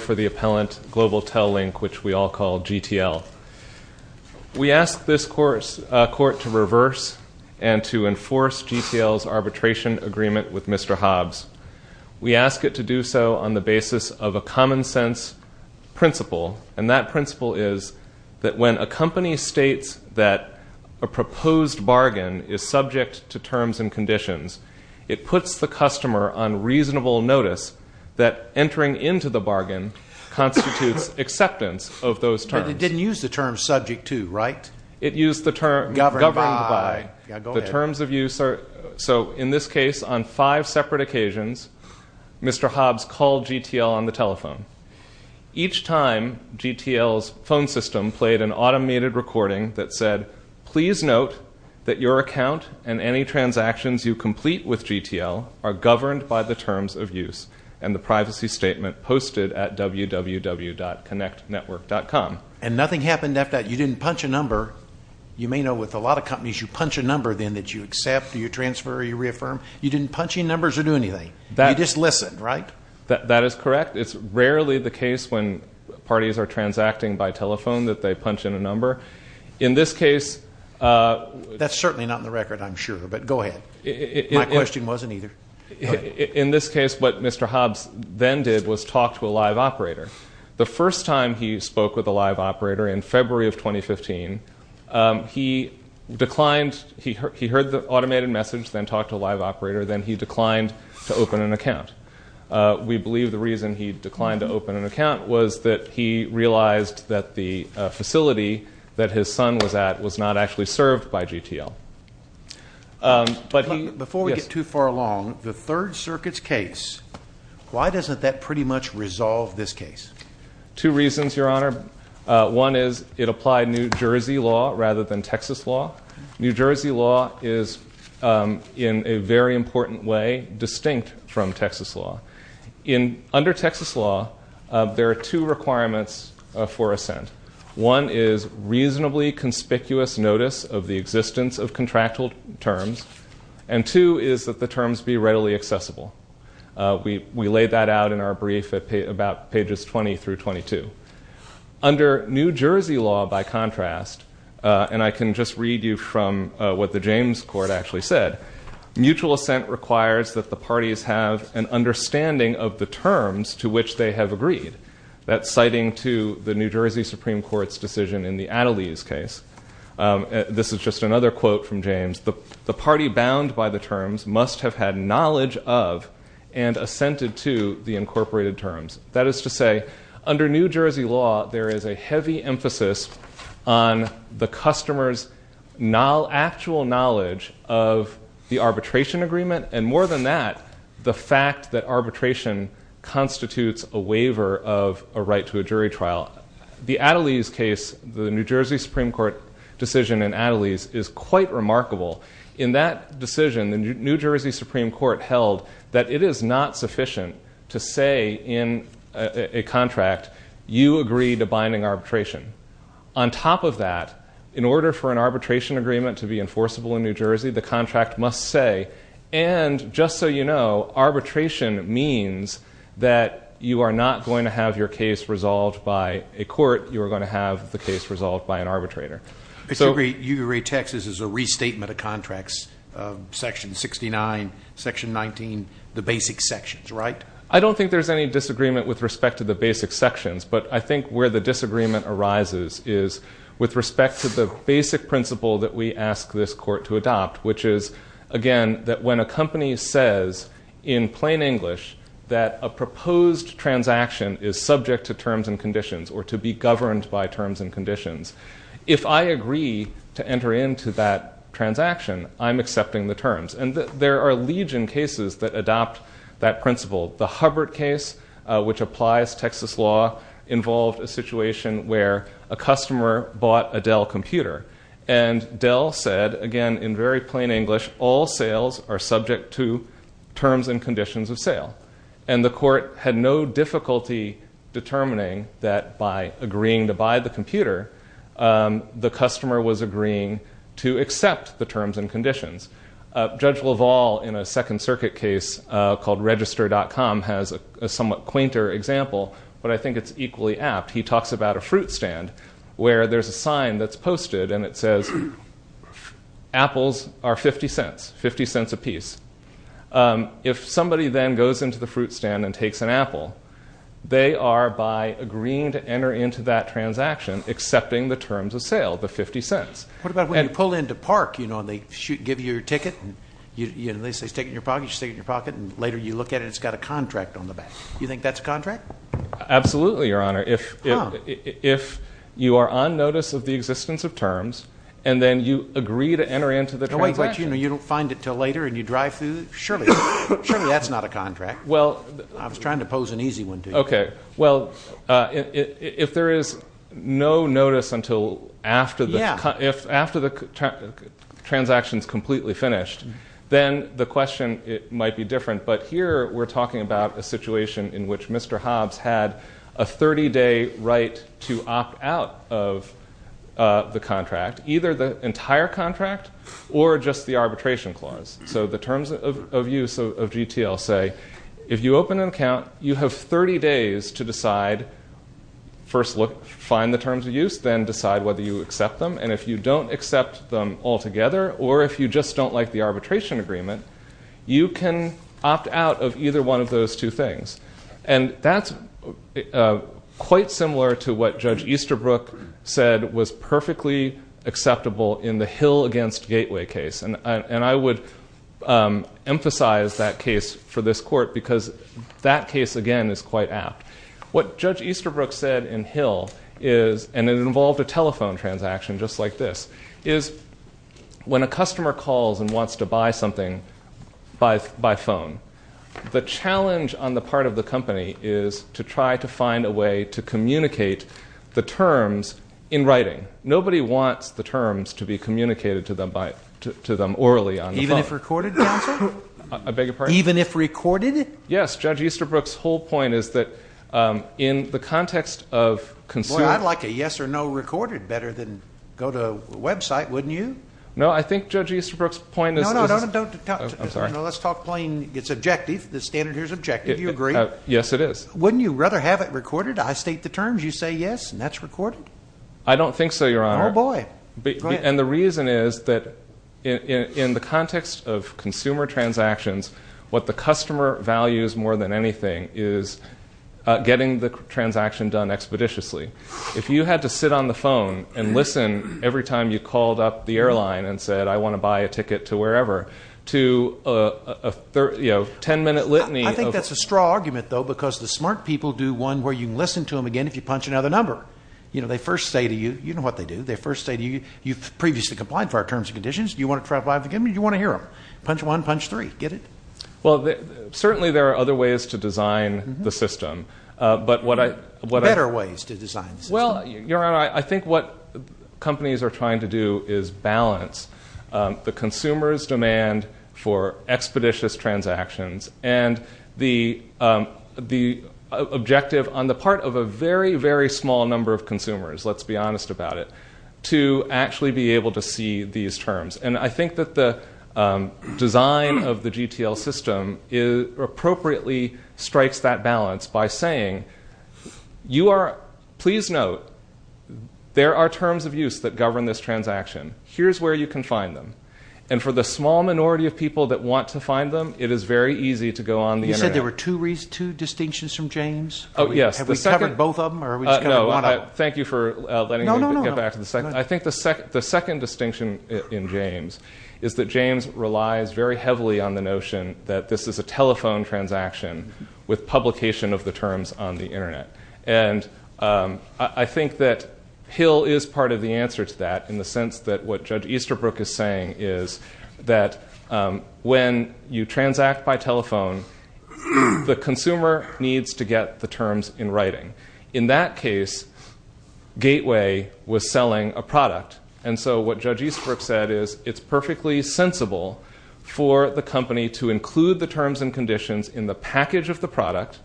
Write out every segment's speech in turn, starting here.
for the appellant, Global TelLink, which we all call GTL. We ask this court to reverse and to enforce GTL's arbitration agreement with Mr. Hobbs. We ask it to do so on the basis of a common-sense principle, and that principle is that when a company states that a proposed bargain is subject to terms and conditions, it puts the customer on reasonable notice that entering into the bargain constitutes acceptance of those terms. It didn't use the term subject to, right? It used the term governed by. Go ahead. The terms of use are, so in this case, on five separate occasions, Mr. Hobbs called GTL on the telephone. Each time, GTL's phone system played an automated recording that said, please note that your account and any transactions you complete with GTL are governed by the terms of use and the privacy statement posted at www.connectnetwork.com. And nothing happened after that. You didn't punch a number. You may know with a lot of companies, you punch a number then that you accept, you transfer, you reaffirm. You didn't punch in numbers or do anything. You just listened, right? That is correct. It's rarely the case when parties are transacting by telephone that they punch in a number. In this case... That's certainly not in the record, I'm sure, but go ahead. My question wasn't either. In this case, what Mr. Hobbs then did was talk to a live operator. The first time he spoke with a live operator in February of 2015, he declined. He heard the automated message, then talked to a live operator, then he declined to open an account. We believe the reason he declined to open an account was that he realized that the facility that his son was at was not actually served by GTL. Before we get too far along, the Third Circuit's case, why doesn't that pretty much resolve this case? Two reasons, Your Honor. One is it applied New Jersey law rather than Texas law. New Jersey law is, in a very important way, distinct from Texas law. Under Texas law, there are two requirements for assent. One is reasonably conspicuous notice of the existence of contractual terms, and two is that the terms be readily accessible. We laid that out in our brief about pages 20 through 22. Under New Jersey law, by contrast, and I can just read you from what the James Court actually said, mutual assent requires that the parties have an understanding of the terms to which they have agreed. That's citing to the New Jersey Supreme Court's decision in the Attlees case. This is just another quote from James. The party bound by the terms must have had knowledge of and assented to the incorporated terms. That is to say, under New Jersey law, there is a heavy emphasis on the customer's actual knowledge of the arbitration agreement, and more than that, the fact that arbitration constitutes a waiver of a right to a jury trial. The Attlees case, the New Jersey Supreme Court decision in Attlees, is quite remarkable. In that decision, the New Jersey Supreme Court held that it is not sufficient to say in a contract, you agree to binding arbitration. On top of that, in order for an arbitration agreement to be enforceable in New Jersey, the contract must say, and just so you know, arbitration means that you are not going to have your case resolved by a court. You are going to have the case resolved by an arbitrator. You rate Texas as a restatement of contracts, Section 69, Section 19, the basic sections, right? I don't think there's any disagreement with respect to the basic sections, but I think where the disagreement arises is with respect to the basic principle that we ask this court to adopt, which is, again, that when a company says in plain English that a proposed transaction is subject to terms and conditions or to be governed by terms and conditions, if I agree to enter into that transaction, I'm accepting the terms. And there are legion cases that adopt that principle. The Hubbard case, which applies Texas law, involved a situation where a customer bought a Dell computer. And Dell said, again, in very plain English, all sales are subject to terms and conditions of sale. And the court had no difficulty determining that by agreeing to buy the computer, the customer was agreeing to accept the terms and conditions. Judge LaValle, in a Second Circuit case called Register.com, has a somewhat quainter example, but I think it's equally apt. And it says apples are $0.50, $0.50 a piece. If somebody then goes into the fruit stand and takes an apple, they are, by agreeing to enter into that transaction, accepting the terms of sale, the $0.50. What about when you pull in to park, you know, and they give you your ticket, and they say stick it in your pocket, you stick it in your pocket, and later you look at it and it's got a contract on the back. Do you think that's a contract? Absolutely, Your Honor. If you are on notice of the existence of terms, and then you agree to enter into the transaction. You don't find it until later and you drive through? Surely that's not a contract. I was trying to pose an easy one to you. Okay. Well, if there is no notice until after the transaction is completely finished, then the question might be different. But here we're talking about a situation in which Mr. Hobbs had a 30-day right to opt out of the contract, either the entire contract or just the arbitration clause. So the terms of use of GTL say if you open an account, you have 30 days to decide, first look, find the terms of use, then decide whether you accept them. And if you don't accept them altogether, or if you just don't like the arbitration agreement, you can opt out of either one of those two things. And that's quite similar to what Judge Easterbrook said was perfectly acceptable in the Hill against Gateway case. And I would emphasize that case for this court because that case, again, is quite apt. What Judge Easterbrook said in Hill is, and it involved a telephone transaction just like this, is when a customer calls and wants to buy something by phone, the challenge on the part of the company is to try to find a way to communicate the terms in writing. Nobody wants the terms to be communicated to them orally on the phone. Even if recorded, counsel? I beg your pardon? Even if recorded? Yes. Judge Easterbrook's whole point is that in the context of consumer... No, I think Judge Easterbrook's point is... No, no, no. I'm sorry. Let's talk plain. It's objective. The standard here is objective. Do you agree? Yes, it is. Wouldn't you rather have it recorded? I state the terms, you say yes, and that's recorded? I don't think so, Your Honor. Oh, boy. Go ahead. And the reason is that in the context of consumer transactions, what the customer values more than anything is getting the transaction done expeditiously. If you had to sit on the phone and listen every time you called up the airline and said, I want to buy a ticket to wherever, to a 10-minute litany of... I think that's a straw argument, though, because the smart people do one where you can listen to them again if you punch another number. You know, they first say to you, you know what they do, they first say to you, you've previously complied for our terms and conditions, do you want to try five again, or do you want to hear them? Punch one, punch three. Get it? Well, certainly there are other ways to design the system, but what I... Well, Your Honor, I think what companies are trying to do is balance the consumer's demand for expeditious transactions and the objective on the part of a very, very small number of consumers, let's be honest about it, to actually be able to see these terms. And I think that the design of the GTL system appropriately strikes that balance by saying you are... Please note, there are terms of use that govern this transaction. Here's where you can find them. And for the small minority of people that want to find them, it is very easy to go on the Internet. You said there were two distinctions from James? Oh, yes. Have we covered both of them, or are we just covering one of them? Thank you for letting me get back to the second. I think the second distinction in James is that James relies very heavily on the notion that this is a telephone transaction with publication of the terms on the Internet. And I think that Hill is part of the answer to that in the sense that what Judge Easterbrook is saying is that when you transact by telephone, the consumer needs to get the terms in writing. In that case, Gateway was selling a product. And so what Judge Easterbrook said is it's perfectly sensible for the company to include the terms and conditions in the package of the product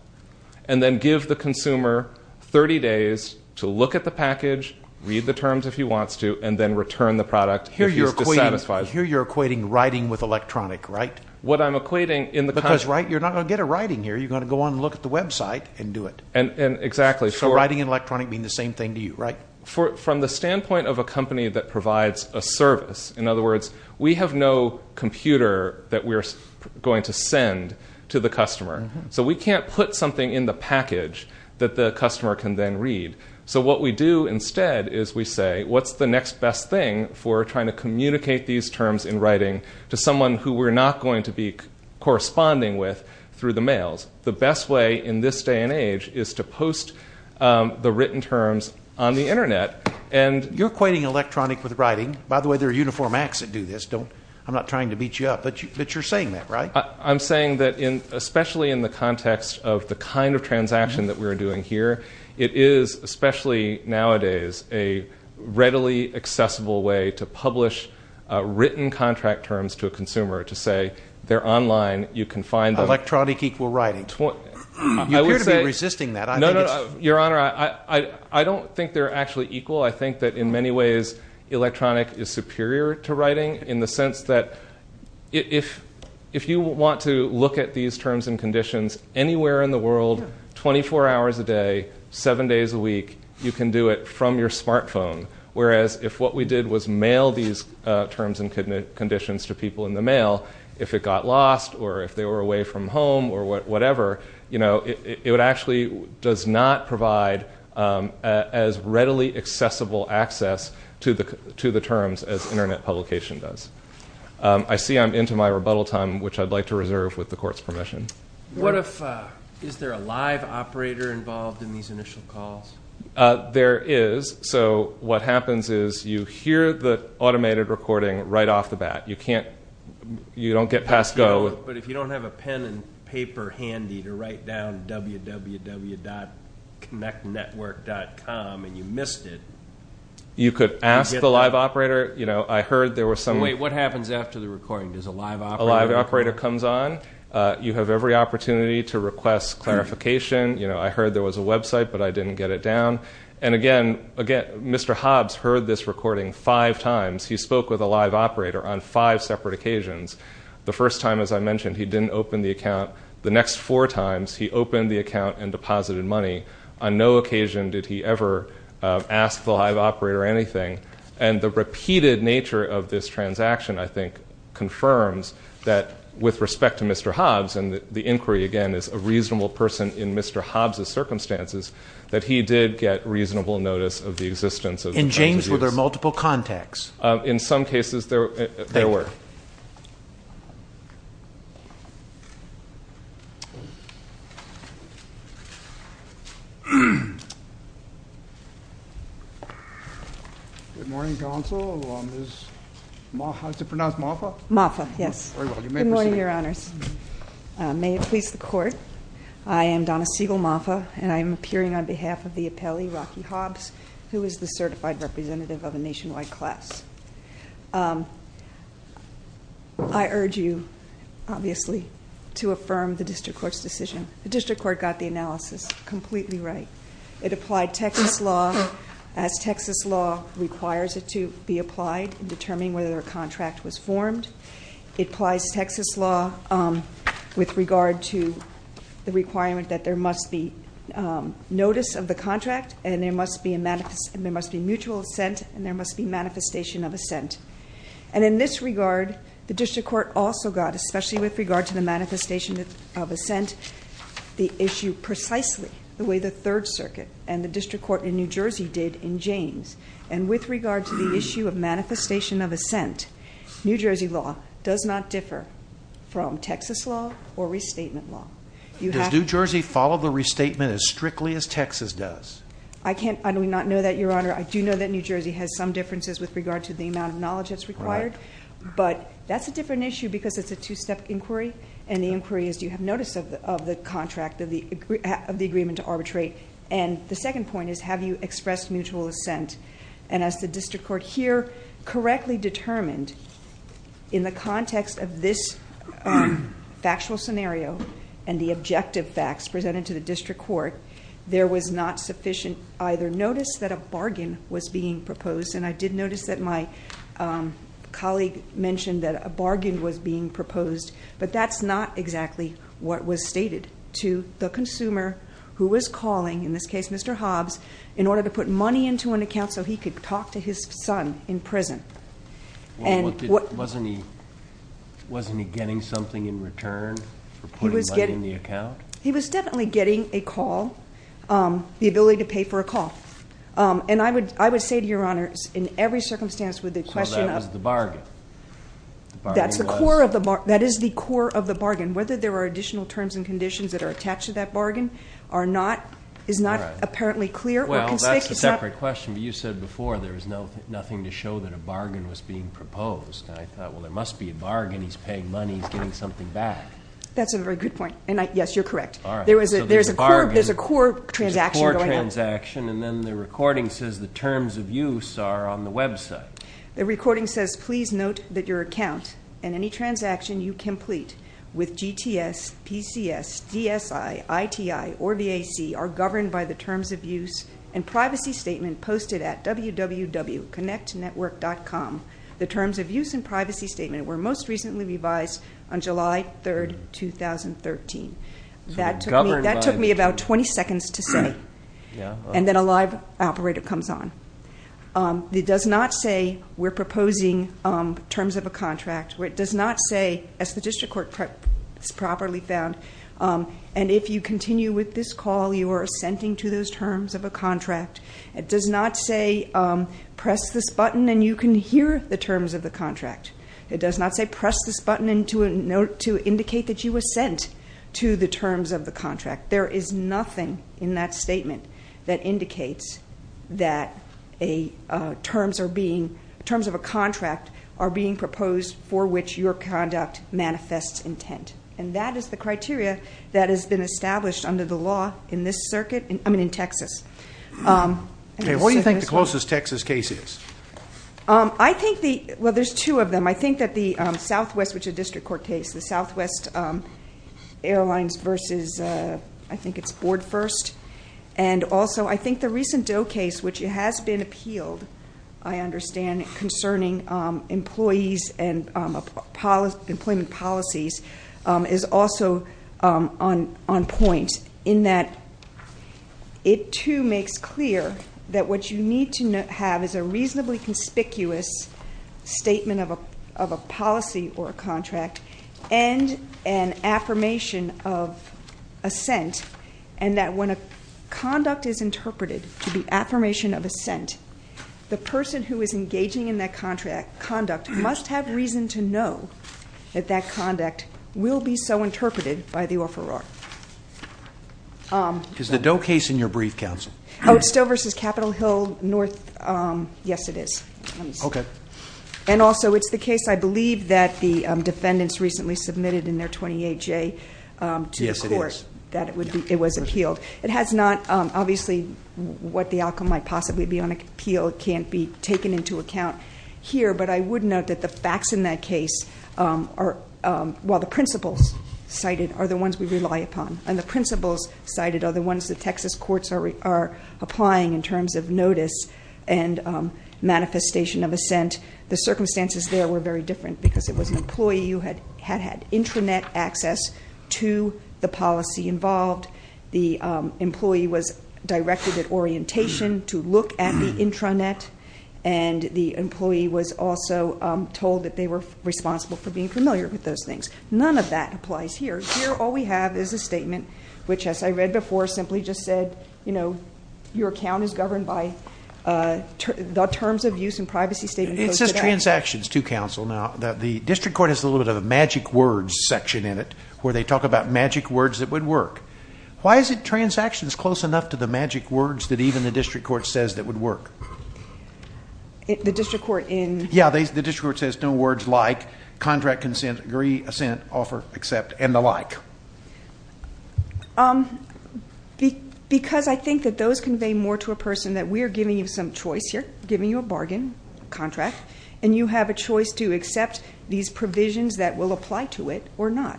and then give the consumer 30 days to look at the package, read the terms if he wants to, and then return the product if he's dissatisfied. Here you're equating writing with electronic, right? What I'm equating in the... Because you're not going to get a writing here. You're going to go on and look at the website and do it. Exactly. So writing and electronic mean the same thing to you, right? From the standpoint of a company that provides a service, in other words, we have no computer that we're going to send to the customer. So we can't put something in the package that the customer can then read. So what we do instead is we say, what's the next best thing for trying to communicate these terms in writing to someone who we're not going to be corresponding with through the mails? The best way in this day and age is to post the written terms on the Internet. You're equating electronic with writing. By the way, there are uniform acts that do this. I'm not trying to beat you up, but you're saying that, right? I'm saying that especially in the context of the kind of transaction that we're doing here, it is, especially nowadays, a readily accessible way to publish written contract terms to a consumer to say they're online, you can find them. Electronic equal writing. You appear to be resisting that. Your Honor, I don't think they're actually equal. I think that in many ways electronic is superior to writing in the sense that if you want to look at these terms and conditions anywhere in the world, 24 hours a day, 7 days a week, you can do it from your smartphone. Whereas if what we did was mail these terms and conditions to people in the mail, if it got lost or if they were away from home or whatever, it actually does not provide as readily accessible access to the terms as Internet publication does. I see I'm into my rebuttal time, which I'd like to reserve with the Court's permission. Is there a live operator involved in these initial calls? There is. What happens is you hear the automated recording right off the bat. You don't get past go. But if you don't have a pen and paper handy to write down www.connectnetwork.com and you missed it, you could ask the live operator. Wait, what happens after the recording? Does a live operator come on? A live operator comes on. You have every opportunity to request clarification. I heard there was a website, but I didn't get it down. And again, Mr. Hobbs heard this recording five times. He spoke with a live operator on five separate occasions. The first time, as I mentioned, he didn't open the account. The next four times, he opened the account and deposited money. On no occasion did he ever ask the live operator anything. And the repeated nature of this transaction, I think, confirms that with respect to Mr. Hobbs, and the inquiry, again, is a reasonable person in Mr. Hobbs' circumstances, that he did get reasonable notice of the existence of the device. In James, were there multiple contacts? In some cases, there were. Good morning, counsel. How is it pronounced, Mafa? Mafa, yes. Very well. Good morning, Your Honors. May it please the Court, I am Donna Siegel Mafa, and I am appearing on behalf of the appellee, Rocky Hobbs, who is the certified representative of a nationwide class. I urge you, obviously, to affirm the district court's decision. The district court got the analysis completely right. It applied Texas law as Texas law requires it to be applied in determining whether a contract was formed. It applies Texas law with regard to the requirement that there must be notice of the contract, and there must be mutual assent, and there must be manifestation of assent. And in this regard, the district court also got, especially with regard to the manifestation of assent, the issue precisely the way the Third Circuit and the district court in New Jersey did in James. And with regard to the issue of manifestation of assent, New Jersey law does not differ from Texas law or restatement law. Does New Jersey follow the restatement as strictly as Texas does? I do not know that, Your Honor. I do know that New Jersey has some differences with regard to the amount of knowledge that's required, but that's a different issue because it's a two-step inquiry, and the inquiry is, do you have notice of the contract, of the agreement to arbitrate? And the second point is, have you expressed mutual assent? And as the district court here correctly determined, in the context of this factual scenario and the objective facts presented to the district court, there was not sufficient either notice that a bargain was being proposed, and I did notice that my colleague mentioned that a bargain was being proposed, but that's not exactly what was stated to the consumer who was calling, in this case Mr. Hobbs, in order to put money into an account so he could talk to his son in prison. Wasn't he getting something in return for putting money in the account? He was definitely getting a call, the ability to pay for a call. And I would say to Your Honor, in every circumstance with the question of So that was the bargain? That is the core of the bargain. Whether there are additional terms and conditions that are attached to that bargain is not apparently clear or conspicuous. Well, that's a separate question, but you said before there was nothing to show that a bargain was being proposed, and I thought, well, there must be a bargain. He's paying money. He's getting something back. That's a very good point, and yes, you're correct. There's a core transaction going on. There's a core transaction, and then the recording says the terms of use are on the website. The recording says, Please note that your account and any transaction you complete with GTS, PCS, DSI, ITI, or VAC are governed by the terms of use and privacy statement posted at www.connectnetwork.com. The terms of use and privacy statement were most recently revised on July 3, 2013. That took me about 20 seconds to say. And then a live operator comes on. It does not say we're proposing terms of a contract. It does not say, as the district court properly found, and if you continue with this call, you are assenting to those terms of a contract. It does not say press this button and you can hear the terms of the contract. It does not say press this button to indicate that you assent to the terms of the contract. There is nothing in that statement that indicates that terms of a contract are being proposed for which your conduct manifests intent. And that is the criteria that has been established under the law in Texas. What do you think the closest Texas case is? Well, there's two of them. I think that the Southwest, which is a district court case, the Southwest Airlines versus I think it's Board First, and also I think the recent Doe case, which has been appealed, I understand, concerning employees and employment policies, is also on point in that it, too, makes clear that what you need to have is a reasonably conspicuous statement of a policy or a contract and an affirmation of assent, and that when a conduct is interpreted to be affirmation of assent, the person who is engaging in that conduct must have reason to know that that conduct will be so interpreted by the offeror. Is the Doe case in your brief, counsel? Oh, it's Stowe versus Capitol Hill North. Yes, it is. Okay. And also it's the case, I believe, that the defendants recently submitted in their 28-J to the court. Yes, it is. That it was appealed. It has not, obviously, what the outcome might possibly be on appeal can't be taken into account here, but I would note that the facts in that case, while the principles cited, are the ones we rely upon, and the principles cited are the ones that Texas courts are applying in terms of notice and manifestation of assent. The circumstances there were very different because it was an employee who had had intranet access to the policy involved. The employee was directed at orientation to look at the intranet, and the employee was also told that they were responsible for being familiar with those things. None of that applies here. Here all we have is a statement which, as I read before, simply just said, you know, your account is governed by the terms of use and privacy statement. It says transactions to counsel. Now, the district court has a little bit of a magic words section in it where they talk about magic words that would work. Why is it transactions close enough to the magic words that even the district court says that would work? The district court in? Yeah, the district court says no words like contract consent, agree, assent, offer, accept, and the like. Because I think that those convey more to a person that we are giving you some choice here, giving you a bargain, contract, and you have a choice to accept these provisions that will apply to it or not.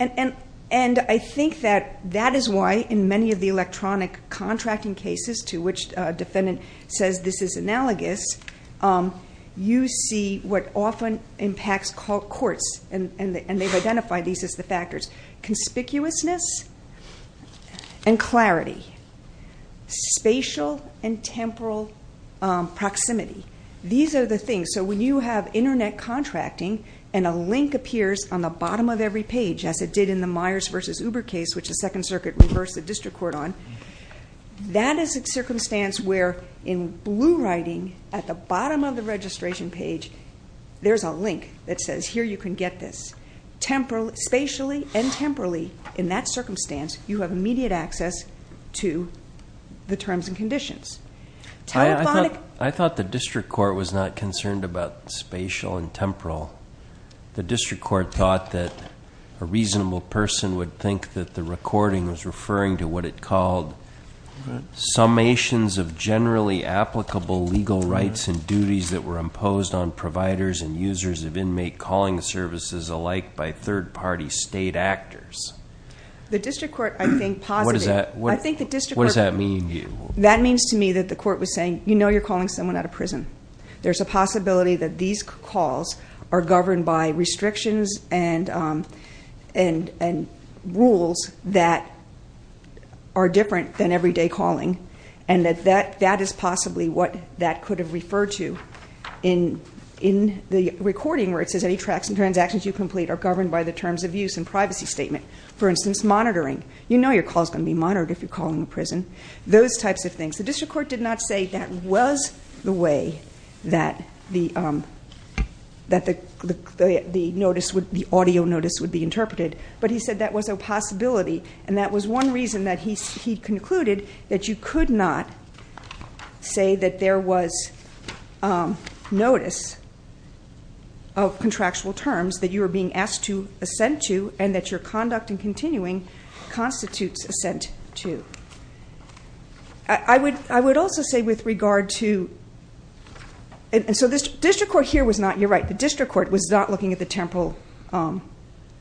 And I think that that is why in many of the electronic contracting cases to which a defendant says this is analogous, you see what often impacts courts, and they've identified these as the factors, conspicuousness and clarity, spatial and temporal proximity. These are the things. So when you have Internet contracting and a link appears on the bottom of every page, as it did in the Myers v. Uber case, which the Second Circuit reversed the district court on, that is a circumstance where in blue writing at the bottom of the registration page, there's a link that says here you can get this. Spatially and temporally in that circumstance, you have immediate access to the terms and conditions. I thought the district court was not concerned about spatial and temporal. The district court thought that a reasonable person would think that the recording was referring to what it called summations of generally applicable legal rights and duties that were imposed on providers and users of inmate calling services alike by third-party state actors. The district court, I think, posited. What does that mean to you? That means to me that the court was saying, you know you're calling someone out of prison. There's a possibility that these calls are governed by restrictions and rules that are different than everyday calling, and that that is possibly what that could have referred to in the recording, where it says any tracts and transactions you complete are governed by the terms of use and privacy statement. For instance, monitoring. You know your call is going to be monitored if you're calling a prison. Those types of things. The district court did not say that was the way that the audio notice would be interpreted, but he said that was a possibility, and that was one reason that he concluded that you could not say that there was notice of contractual terms that you were being asked to assent to and that your conduct in continuing constitutes assent to. I would also say with regard to, and so the district court here was not, you're right, the district court was not looking at the temporal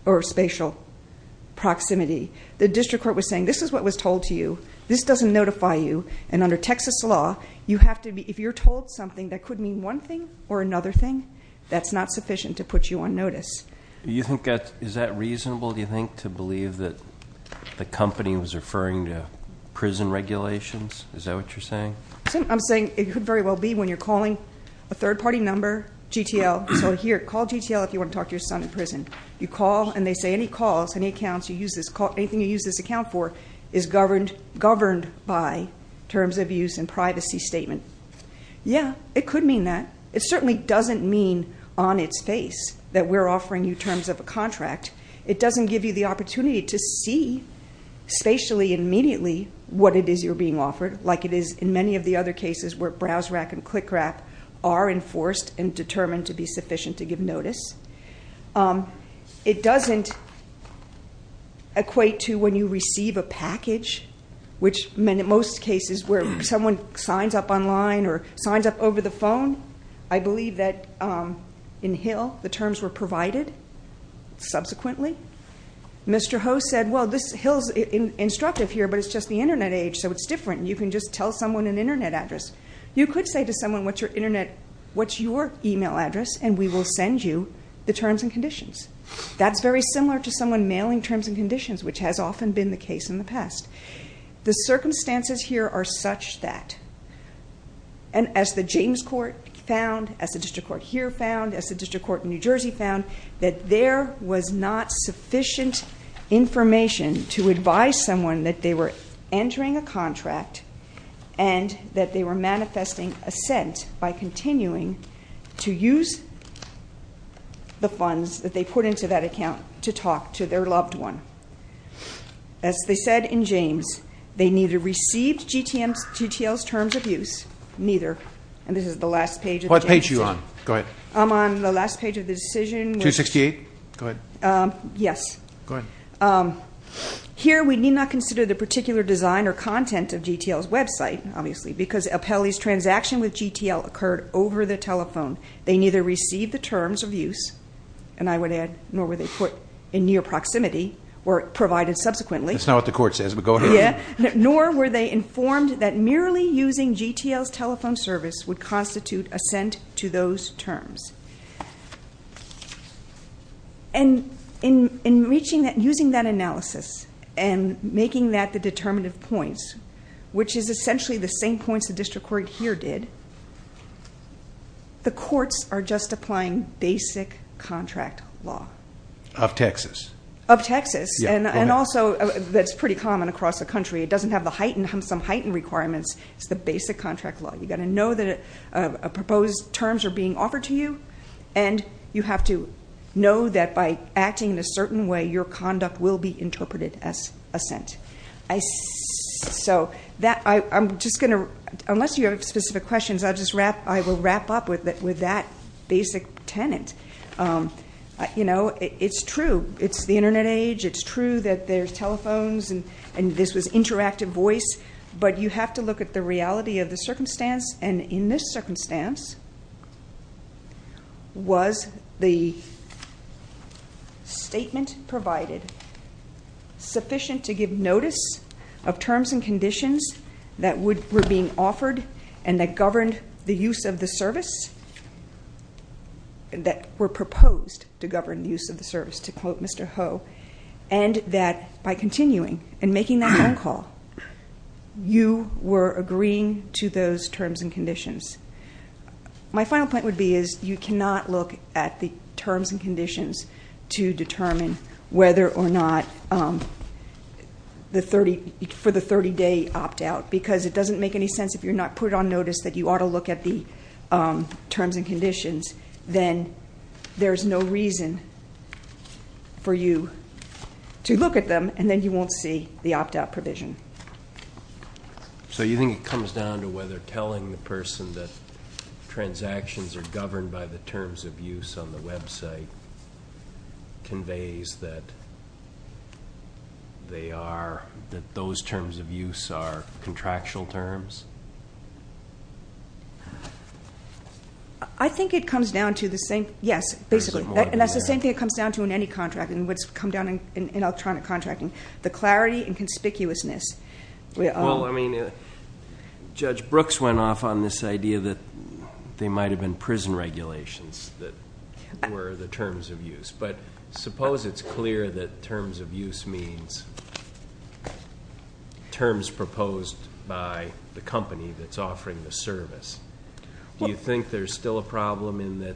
or spatial proximity. The district court was saying this is what was told to you. This doesn't notify you, and under Texas law, if you're told something that could mean one thing or another thing, that's not sufficient to put you on notice. Is that reasonable, do you think, to believe that the company was referring to prison regulations? Is that what you're saying? I'm saying it could very well be when you're calling a third-party number, GTL. So here, call GTL if you want to talk to your son in prison. You call, and they say any calls, any accounts, anything you use this account for is governed by terms of use and privacy statement. Yeah, it could mean that. It certainly doesn't mean on its face that we're offering you terms of a contract. It doesn't give you the opportunity to see spatially and immediately what it is you're being offered, like it is in many of the other cases where BrowseRack and ClickRap are enforced and determined to be sufficient to give notice. It doesn't equate to when you receive a package, which in most cases where someone signs up online or signs up over the phone. I believe that in Hill, the terms were provided subsequently. Mr. Ho said, well, Hill's instructive here, but it's just the Internet age, so it's different. You can just tell someone an Internet address. You could say to someone, what's your Internet, what's your email address, and we will send you the terms and conditions. That's very similar to someone mailing terms and conditions, which has often been the case in the past. The circumstances here are such that, and as the James Court found, as the district court here found, as the district court in New Jersey found, that there was not sufficient information to advise someone that they were entering a contract and that they were manifesting assent by continuing to use the funds that they put into that account to talk to their loved one. As they said in James, they neither received GTL's terms of use, neither, and this is the last page of the decision. What page are you on? Go ahead. I'm on the last page of the decision. 268? Go ahead. Yes. Go ahead. Here, we need not consider the particular design or content of GTL's website, obviously, because Apelli's transaction with GTL occurred over the telephone. They neither received the terms of use, and I would add, nor were they put in near proximity or provided subsequently. That's not what the court says, but go ahead. Nor were they informed that merely using GTL's telephone service would constitute assent to those terms. In using that analysis and making that the determinative points, which is essentially the same points the district court here did, the courts are just applying basic contract law. Of Texas. Of Texas, and also that's pretty common across the country. It doesn't have some heightened requirements. It's the basic contract law. You've got to know that proposed terms are being offered to you, and you have to know that by acting in a certain way, your conduct will be interpreted as assent. Unless you have specific questions, I will wrap up with that basic tenant. It's true. It's the Internet age. It's true that there's telephones and this was interactive voice, but you have to look at the reality of the circumstance, and in this circumstance, was the statement provided sufficient to give notice of terms and conditions that were being offered and that governed the use of the service, that were proposed to govern the use of the service, to quote Mr. Ho, and that by continuing and making that phone call, you were agreeing to those terms and conditions. My final point would be is you cannot look at the terms and conditions to determine whether or not for the 30-day opt-out, because it doesn't make any sense if you're not put on notice that you ought to look at the terms and conditions, then there's no reason for you to look at them, and then you won't see the opt-out provision. So you think it comes down to whether telling the person that transactions are governed by the terms of use on the website conveys that those terms of use are contractual terms? I think it comes down to the same, yes, basically, and that's the same thing it comes down to in any contract, and what's come down in electronic contracting, the clarity and conspicuousness. Well, I mean, Judge Brooks went off on this idea that they might have been prison regulations that were the terms of use, but suppose it's clear that terms of use means terms proposed by the company that's offering the service. Do you think there's still a problem in that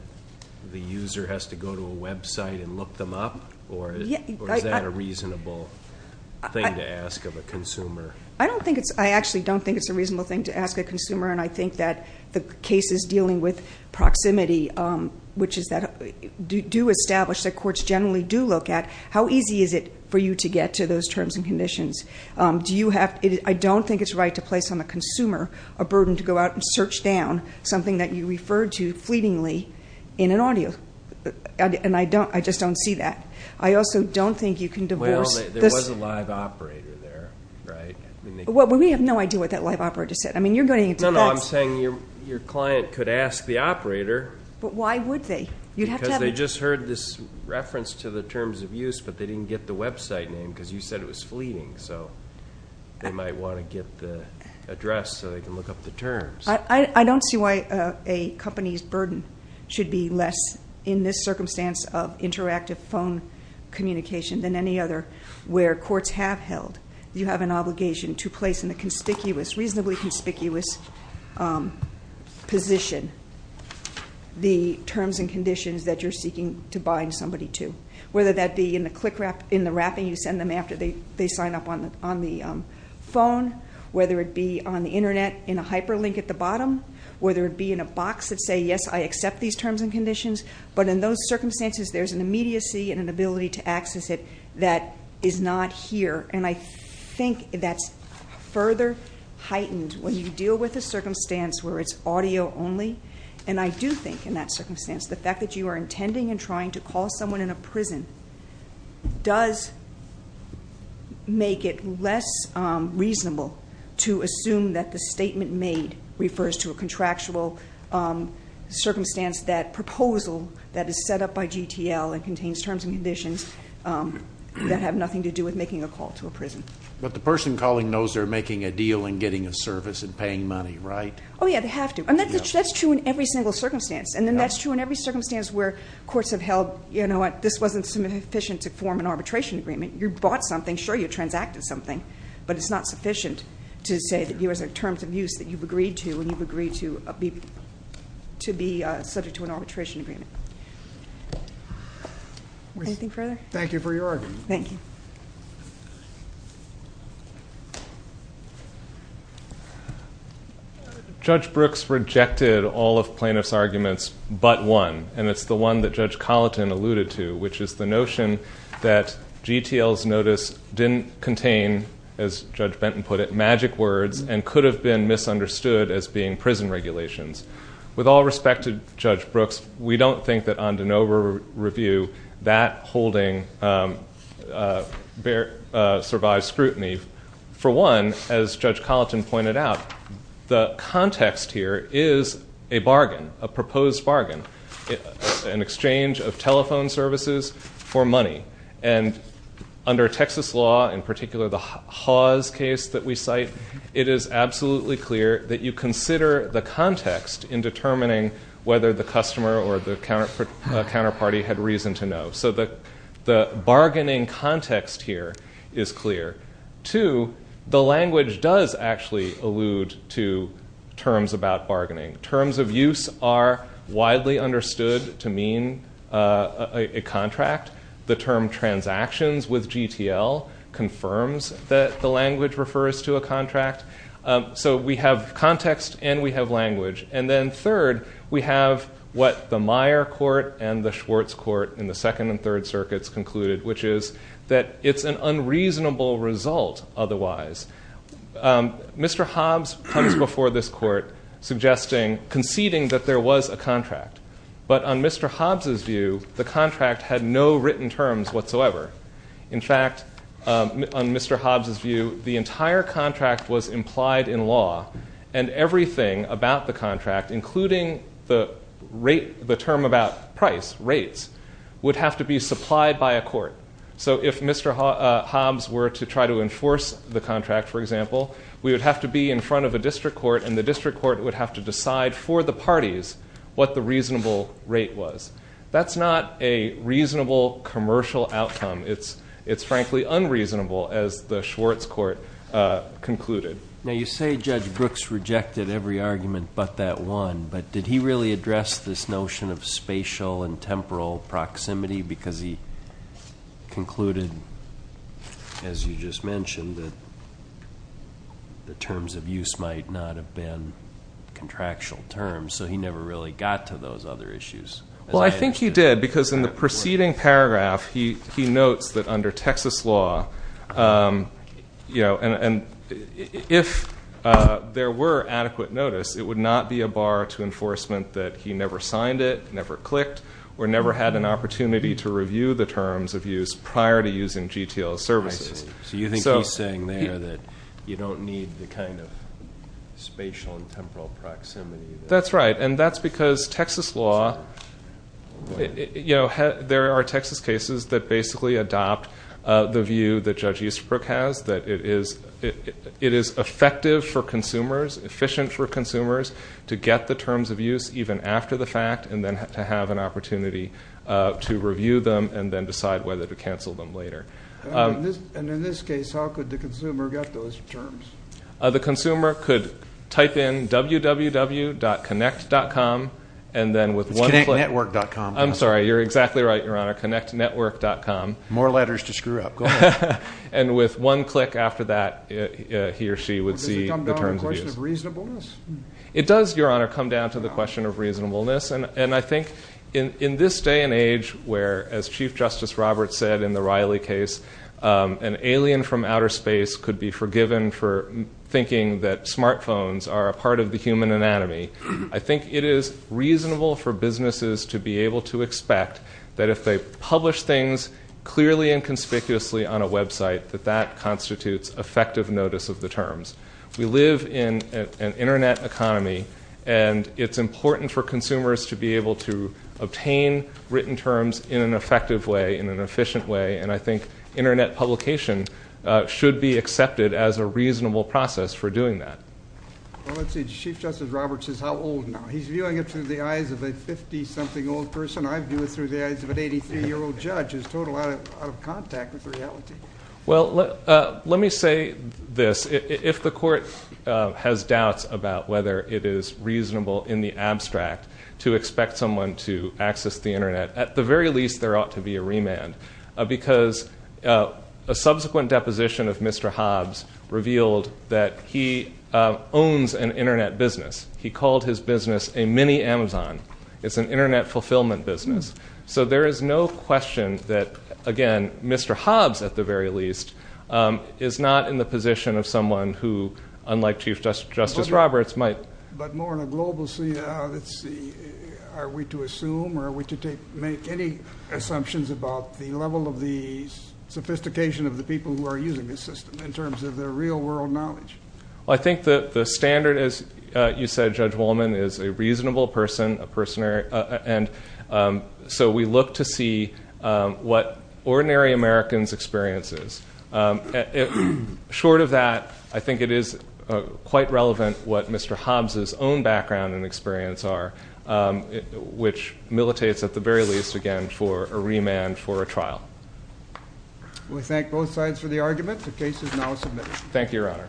the user has to go to a website and look them up, or is that a reasonable thing to ask of a consumer? I actually don't think it's a reasonable thing to ask a consumer, and I think that the cases dealing with proximity, which do establish that courts generally do look at, how easy is it for you to get to those terms and conditions? I don't think it's right to place on the consumer a burden to go out and search down something that you referred to fleetingly in an audio, and I just don't see that. I also don't think you can divorce. Well, there was a live operator there, right? Well, we have no idea what that live operator said. No, no, I'm saying your client could ask the operator. But why would they? Because they just heard this reference to the terms of use, but they didn't get the website name because you said it was fleeting, so they might want to get the address so they can look up the terms. I don't see why a company's burden should be less in this circumstance of interactive phone communication than any other where courts have held. You have an obligation to place in a conspicuous, reasonably conspicuous position the terms and conditions that you're seeking to bind somebody to, whether that be in the wrapping you send them after they sign up on the phone, whether it be on the internet in a hyperlink at the bottom, whether it be in a box that says, yes, I accept these terms and conditions, but in those circumstances, there's an immediacy and an ability to access it that is not here, and I think that's further heightened when you deal with a circumstance where it's audio only. And I do think in that circumstance, the fact that you are intending and trying to call someone in a prison does make it less reasonable to assume that the statement made refers to a contractual circumstance, that proposal that is set up by GTL and contains terms and conditions that have nothing to do with making a call to a prison. But the person calling knows they're making a deal and getting a service and paying money, right? Oh, yeah, they have to. And that's true in every single circumstance. And then that's true in every circumstance where courts have held, you know what, this wasn't sufficient to form an arbitration agreement. You bought something, sure, you transacted something, but it's not sufficient to say that these are terms of use that you've agreed to and you've agreed to be subject to an arbitration agreement. Anything further? Thank you for your argument. Thank you. Judge Brooks rejected all of plaintiff's arguments but one, and it's the one that Judge Colleton alluded to, which is the notion that GTL's notice didn't contain, as Judge Benton put it, magic words and could have been misunderstood as being prison regulations. With all respect to Judge Brooks, we don't think that on de novo review, that holding survives scrutiny. For one, as Judge Colleton pointed out, the context here is a bargain, a proposed bargain. An exchange of telephone services for money. And under Texas law, in particular the Hawes case that we cite, it is absolutely clear that you consider the context in determining whether the customer or the counterparty had reason to know. So the bargaining context here is clear. Two, the language does actually allude to terms about bargaining. Terms of use are widely understood to mean a contract. The term transactions with GTL confirms that the language refers to a contract. So we have context and we have language. And then third, we have what the Meyer court and the Schwartz court in the second and third circuits concluded, which is that it's an unreasonable result otherwise. Mr. Hobbs comes before this court conceding that there was a contract. But on Mr. Hobbs' view, the contract had no written terms whatsoever. In fact, on Mr. Hobbs' view, the entire contract was implied in law and everything about the contract, including the term about price, rates, would have to be supplied by a court. So if Mr. Hobbs were to try to enforce the contract, for example, we would have to be in front of a district court and the district court would have to decide for the parties what the reasonable rate was. That's not a reasonable commercial outcome. It's frankly unreasonable, as the Schwartz court concluded. Now you say Judge Brooks rejected every argument but that one, but did he really address this notion of spatial and temporal proximity because he concluded, as you just mentioned, that the terms of use might not have been contractual terms, so he never really got to those other issues? Well, I think he did because in the preceding paragraph, he notes that under Texas law, and if there were adequate notice, it would not be a bar to enforcement that he never signed it, never clicked, or never had an opportunity to review the terms of use prior to using GTL services. So you think he's saying there that you don't need the kind of spatial and temporal proximity? That's right, and that's because Texas law, there are Texas cases that basically adopt the view that Judge Eastbrook has that it is effective for consumers, efficient for consumers to get the terms of use even after the fact and to have an opportunity to review them and then decide whether to cancel them later. And in this case, how could the consumer get those terms? The consumer could type in www.connect.com and then with one click It's connectnetwork.com. I'm sorry, you're exactly right, Your Honor, connectnetwork.com. More letters to screw up, go ahead. And with one click after that, he or she would see the terms of use. Does it come down to a question of reasonableness? It does, Your Honor, come down to the question of reasonableness, and I think in this day and age where, as Chief Justice Roberts said in the Riley case, an alien from outer space could be forgiven for thinking that smartphones are a part of the human anatomy. I think it is reasonable for businesses to be able to expect that if they publish things clearly and conspicuously on a website that that constitutes effective notice of the terms. We live in an internet economy, and it's important for consumers to be able to obtain written terms in an effective way, in an efficient way, and I think internet publication should be accepted as a reasonable process for doing that. Well, let's see, Chief Justice Roberts says how old now? He's viewing it through the eyes of a 50-something old person. I'm viewing it through the eyes of an 83-year-old judge who's totally out of contact with reality. Well, let me say this. If the court has doubts about whether it is reasonable in the abstract to expect someone to access the internet, at the very least, there ought to be a remand, because a subsequent deposition of Mr. Hobbs revealed that he owns an internet business. He called his business a mini-Amazon. It's an internet fulfillment business. So there is no question that, again, Mr. Hobbs, at the very least, is not in the position of someone who, unlike Chief Justice Roberts, might... Are we to assume, or are we to make any assumptions about the level of the sophistication of the people who are using this system in terms of their real-world knowledge? Well, I think that the standard, as you said, Judge Wolman, is a reasonable person, a person... And so we look to see what ordinary Americans' experience is. Short of that, I think it is quite relevant what Mr. Hobbs' own background and experience are. Which militates, at the very least, again, for a remand for a trial. We thank both sides for the argument. The case is now submitted.